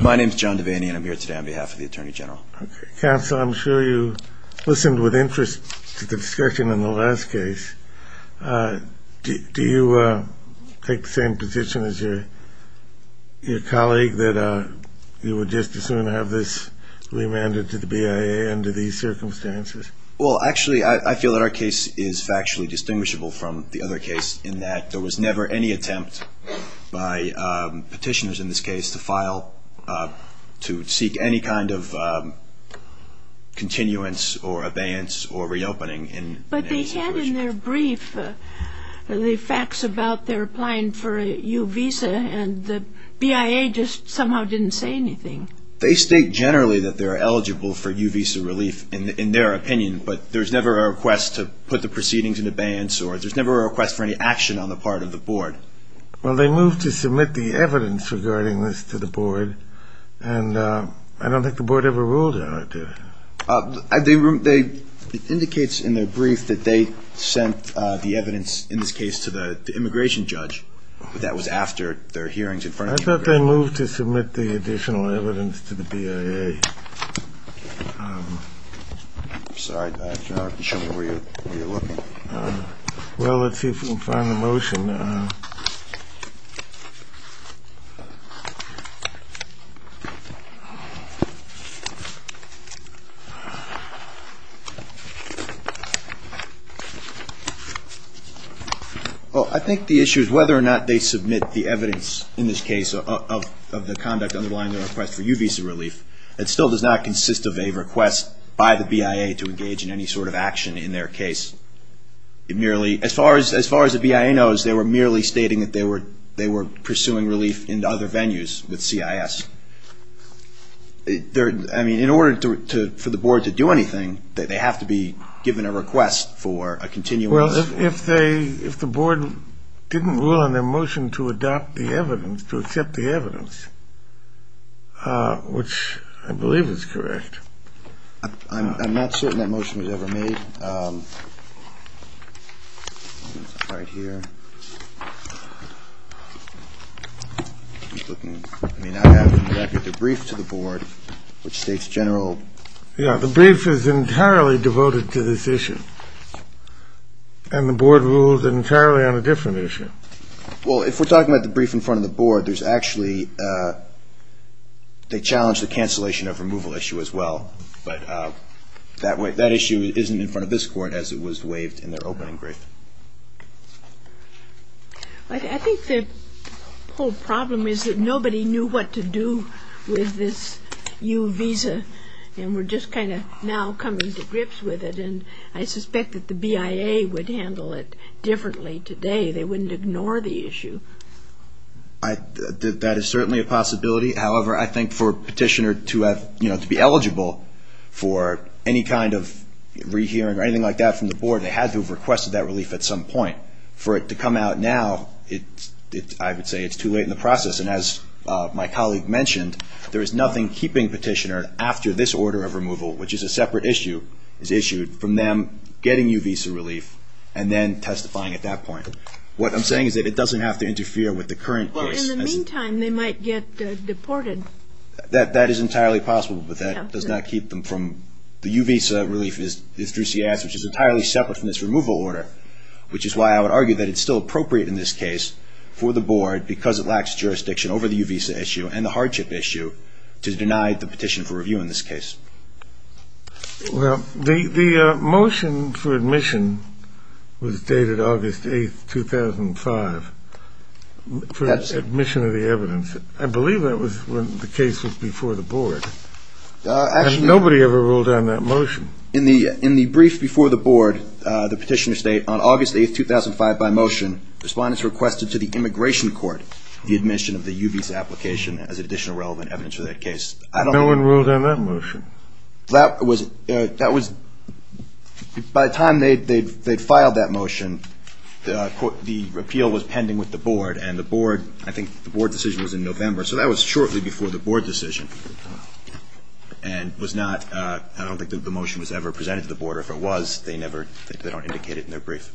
My name is John Devaney and I'm here today on behalf of the Attorney General. Counsel, I'm sure you listened with interest to the discussion in the last case. Do you take the same position as your colleague that you would just as soon have this remanded to the BIA under these circumstances? Well, actually, I feel that our case is factually distinguishable from the other case in that there was never any attempt by petitioners in this case to file, to seek any kind of continuance or abeyance or reopening. But they had in their brief the facts about their applying for a U-Visa and the BIA just somehow didn't say anything. They state generally that they're eligible for U-Visa relief in their opinion, but there's never a request to put the proceedings in abeyance or there's never a request for any action on the part of the board. Well, they moved to submit the evidence regarding this to the board, and I don't think the board ever ruled on it. It indicates in their brief that they sent the evidence in this case to the immigration judge, but that was after their hearings in front of the immigration judge. I thought they moved to submit the additional evidence to the BIA. Okay. Sorry, Dr. Archer, I don't know where you're looking. Well, let's see if we can find the motion. Well, I think the issue is whether or not they submit the evidence in this case of the conduct underlying their request for U-Visa relief. It still does not consist of a request by the BIA to engage in any sort of action in their case. As far as the BIA knows, they were merely stating that they were pursuing relief in other venues with CIS. I mean, in order for the board to do anything, they have to be given a request for a continuous – Well, if the board didn't rule on their motion to adopt the evidence, to accept the evidence, which I believe is correct. I'm not certain that motion was ever made. It's right here. I mean, I have the brief to the board, which states general – Yeah, the brief is entirely devoted to this issue, and the board rules entirely on a different issue. Well, if we're talking about the brief in front of the board, there's actually – they challenge the cancellation of removal issue as well. But that issue isn't in front of this court as it was waived in their opening brief. I think the whole problem is that nobody knew what to do with this U-Visa, and we're just kind of now coming to grips with it. And I suspect that the BIA would handle it differently today. They wouldn't ignore the issue. That is certainly a possibility. However, I think for a petitioner to be eligible for any kind of rehearing or anything like that from the board, they had to have requested that relief at some point. For it to come out now, I would say it's too late in the process. And as my colleague mentioned, there is nothing keeping petitioner after this order of removal, which is a separate issue, is issued from them getting U-Visa relief and then testifying at that point. What I'm saying is that it doesn't have to interfere with the current case. Well, in the meantime, they might get deported. That is entirely possible, but that does not keep them from – the U-Visa relief is through CS, which is entirely separate from this removal order, which is why I would argue that it's still appropriate in this case for the board, because it lacks jurisdiction over the U-Visa issue and the hardship issue, to deny the petition for review in this case. Well, the motion for admission was dated August 8, 2005, for admission of the evidence. I believe that was when the case was before the board. Nobody ever ruled on that motion. In the brief before the board, the petitioner state, on August 8, 2005, by motion, respondents requested to the immigration court the admission of the U-Visa application as additional relevant evidence for that case. No one ruled on that motion. That was – by the time they'd filed that motion, the appeal was pending with the board, and the board – I think the board decision was in November. So that was shortly before the board decision, and was not – I don't think the motion was ever presented to the board, or if it was, they never – they don't indicate it in their brief.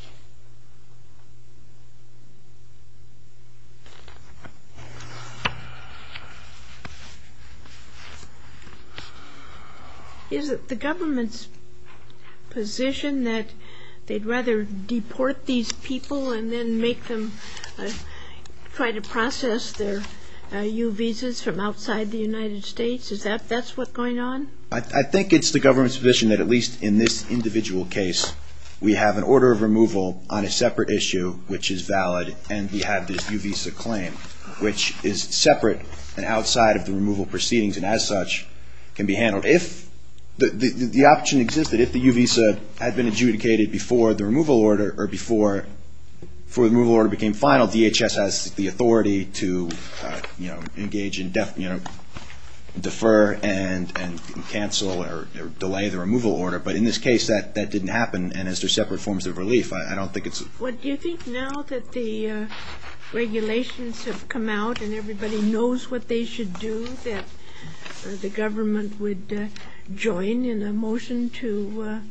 Is it the government's position that they'd rather deport these people and then make them try to process their U-Visas from outside the United States? Is that – that's what's going on? I think it's the government's position that at least in this individual case, we have an order of removal on a separate issue, which is valid, and we have this U-Visa claim, which is separate and outside of the removal proceedings, and as such, can be handled. But if the option existed, if the U-Visa had been adjudicated before the removal order, or before the removal order became final, DHS has the authority to, you know, engage in – defer and cancel or delay the removal order. But in this case, that didn't happen, and as they're separate forms of relief, I don't think it's – Well, do you think now that the regulations have come out and everybody knows what they should do, that the government would join in a motion to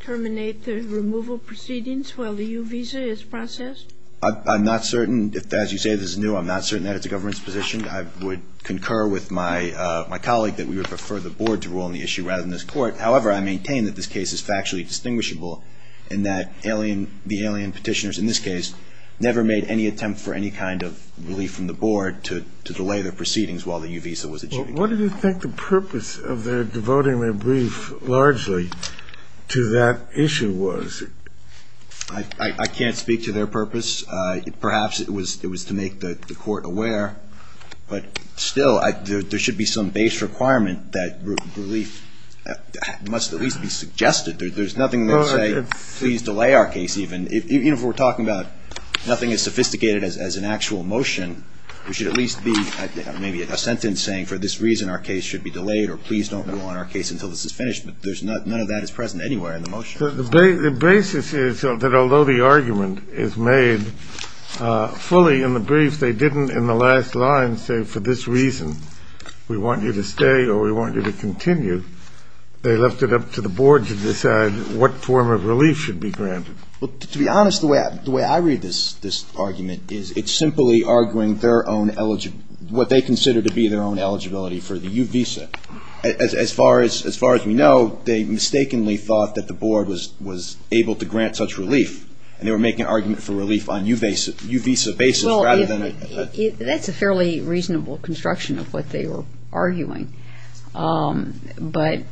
terminate the removal proceedings while the U-Visa is processed? I'm not certain. As you say, this is new. I'm not certain that it's the government's position. I would concur with my colleague that we would prefer the board to rule on the issue rather than this court. However, I maintain that this case is factually distinguishable and that alien – the alien petitioners in this case never made any attempt for any kind of relief from the board to delay their proceedings while the U-Visa was adjudicated. Well, what do you think the purpose of their devoting their brief largely to that issue was? I can't speak to their purpose. Perhaps it was to make the court aware, but still, there should be some base requirement that relief must at least be suggested. There's nothing there to say, please delay our case even. Even if we're talking about nothing as sophisticated as an actual motion, there should at least be maybe a sentence saying for this reason our case should be delayed or please don't rule on our case until this is finished, but there's – none of that is present anywhere in the motion. The basis is that although the argument is made fully in the brief, they didn't in the last line say for this reason we want you to stay or we want you to continue. They left it up to the board to decide what form of relief should be granted. Well, to be honest, the way I read this argument is it's simply arguing their own – what they consider to be their own eligibility for the U-Visa. As far as we know, they mistakenly thought that the board was able to grant such relief, and they were making an argument for relief on U-Visa basis rather than – Well, that's a fairly reasonable construction of what they were arguing, but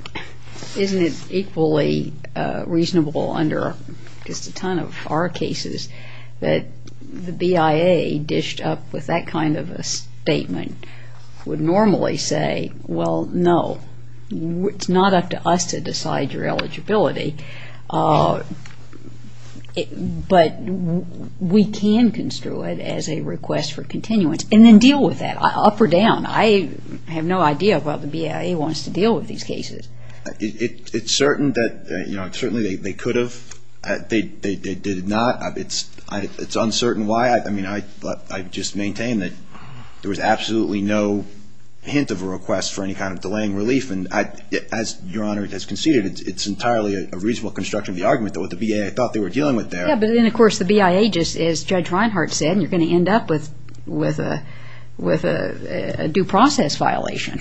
isn't it equally reasonable under just a ton of our cases that the BIA dished up with that kind of a statement would normally say, well, no, it's not up to us to decide your eligibility. But we can construe it as a request for continuance and then deal with that, up or down. I have no idea about what the BIA wants to deal with these cases. It's certain that – certainly they could have. They did not. It's uncertain why. I mean, I just maintain that there was absolutely no hint of a request for any kind of delaying relief, and as Your Honor has conceded, it's entirely a reasonable construction of the argument that what the BIA thought they were dealing with there – Yeah, but then, of course, the BIA just – as Judge Reinhart said, you're going to end up with a due process violation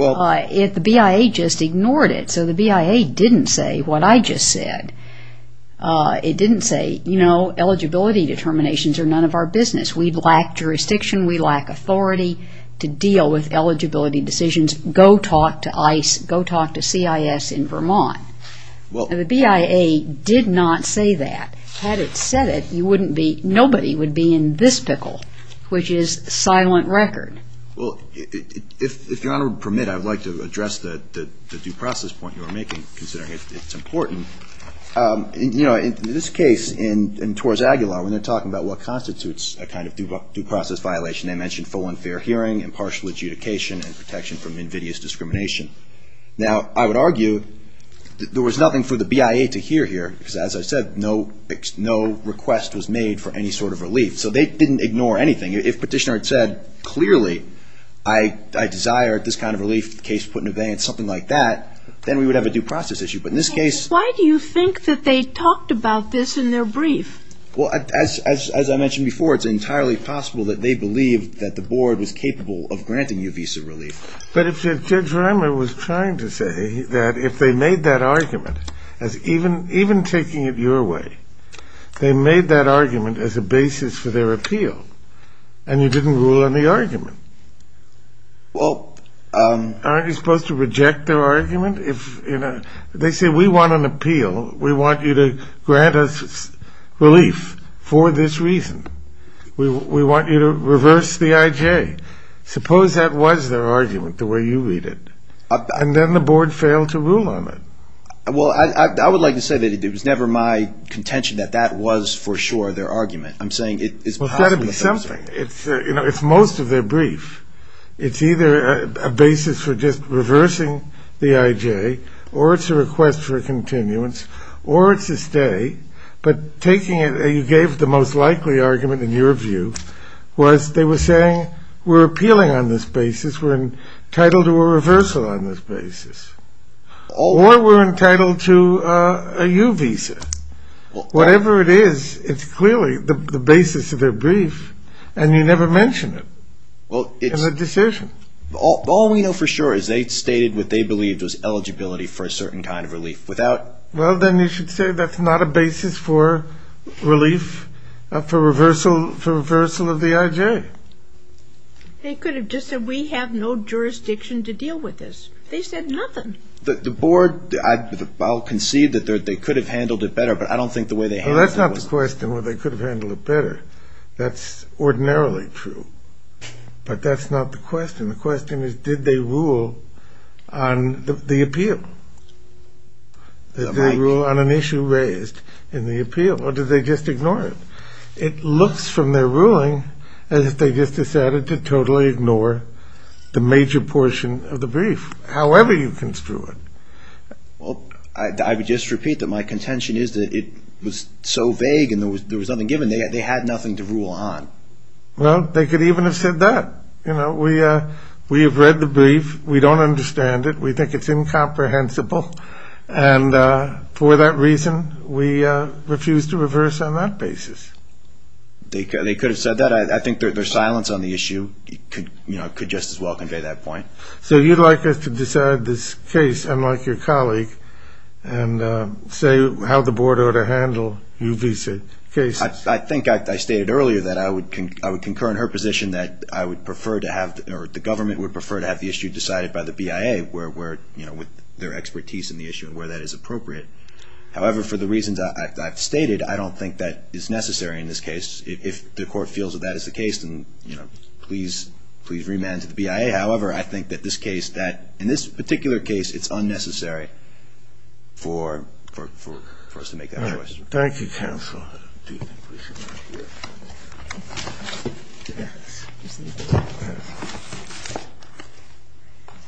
if the BIA just ignored it. So the BIA didn't say what I just said. It didn't say, you know, eligibility determinations are none of our business. We lack jurisdiction. We lack authority to deal with eligibility decisions. Go talk to ICE. Go talk to CIS in Vermont. The BIA did not say that. Had it said it, you wouldn't be – nobody would be in this pickle, which is silent record. Well, if Your Honor would permit, I would like to address the due process point you were making, considering it's important. You know, in this case, in Torres Aguilar, when they're talking about what constitutes a kind of due process violation, they mention full and fair hearing, impartial adjudication, and protection from invidious discrimination. Now, I would argue there was nothing for the BIA to hear here, because as I said, no request was made for any sort of relief. So they didn't ignore anything. If Petitioner had said, clearly, I desire this kind of relief, case put in abeyance, something like that, then we would have a due process issue. But in this case – Why do you think that they talked about this in their brief? Well, as I mentioned before, it's entirely possible that they believed that the board was capable of granting you visa relief. But if Judge Reimer was trying to say that if they made that argument, as even taking it your way, they made that argument as a basis for their appeal, and you didn't rule on the argument, aren't you supposed to reject their argument? They say, we want an appeal. We want you to grant us relief for this reason. We want you to reverse the IJ. Suppose that was their argument, the way you read it. And then the board failed to rule on it. Well, I would like to say that it was never my contention that that was, for sure, their argument. I'm saying it is possible. It's most of their brief. It's either a basis for just reversing the IJ, or it's a request for a continuance, or it's a stay. But taking it, you gave the most likely argument, in your view, was they were saying, we're appealing on this basis, we're entitled to a reversal on this basis, or we're entitled to a U visa. Whatever it is, it's clearly the basis of their brief, and you never mention it as a decision. All we know for sure is they stated what they believed was eligibility for a certain kind of relief. Well, then you should say that's not a basis for relief, for reversal of the IJ. They could have just said, we have no jurisdiction to deal with this. They said nothing. The board, I'll concede that they could have handled it better, but I don't think the way they handled it was... Well, that's not the question, whether they could have handled it better. That's ordinarily true. But that's not the question. The question is, did they rule on the appeal? Did they rule on an issue raised in the appeal, or did they just ignore it? It looks from their ruling as if they just decided to totally ignore the major portion of the brief, however you construe it. Well, I would just repeat that my contention is that it was so vague and there was nothing given, they had nothing to rule on. Well, they could even have said that. We have read the brief. We don't understand it. We think it's incomprehensible. And for that reason, we refuse to reverse on that basis. They could have said that. I think their silence on the issue could just as well convey that point. So you'd like us to decide this case, unlike your colleague, and say how the board ought to handle U visa cases. I think I stated earlier that I would concur in her position that I would prefer to have, or the government would prefer to have the issue decided by the BIA with their expertise in the issue and where that is appropriate. However, for the reasons I've stated, I don't think that is necessary in this case. If the court feels that that is the case, then please remand to the BIA. However, I think that in this particular case, it's unnecessary for us to make that choice. Thank you, counsel.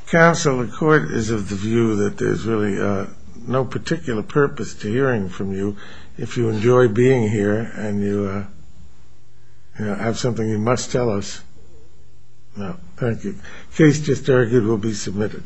Counsel, the court is of the view that there's really no particular purpose to hearing from you. If you enjoy being here and you have something you must tell us. Thank you. Case just argued will be submitted.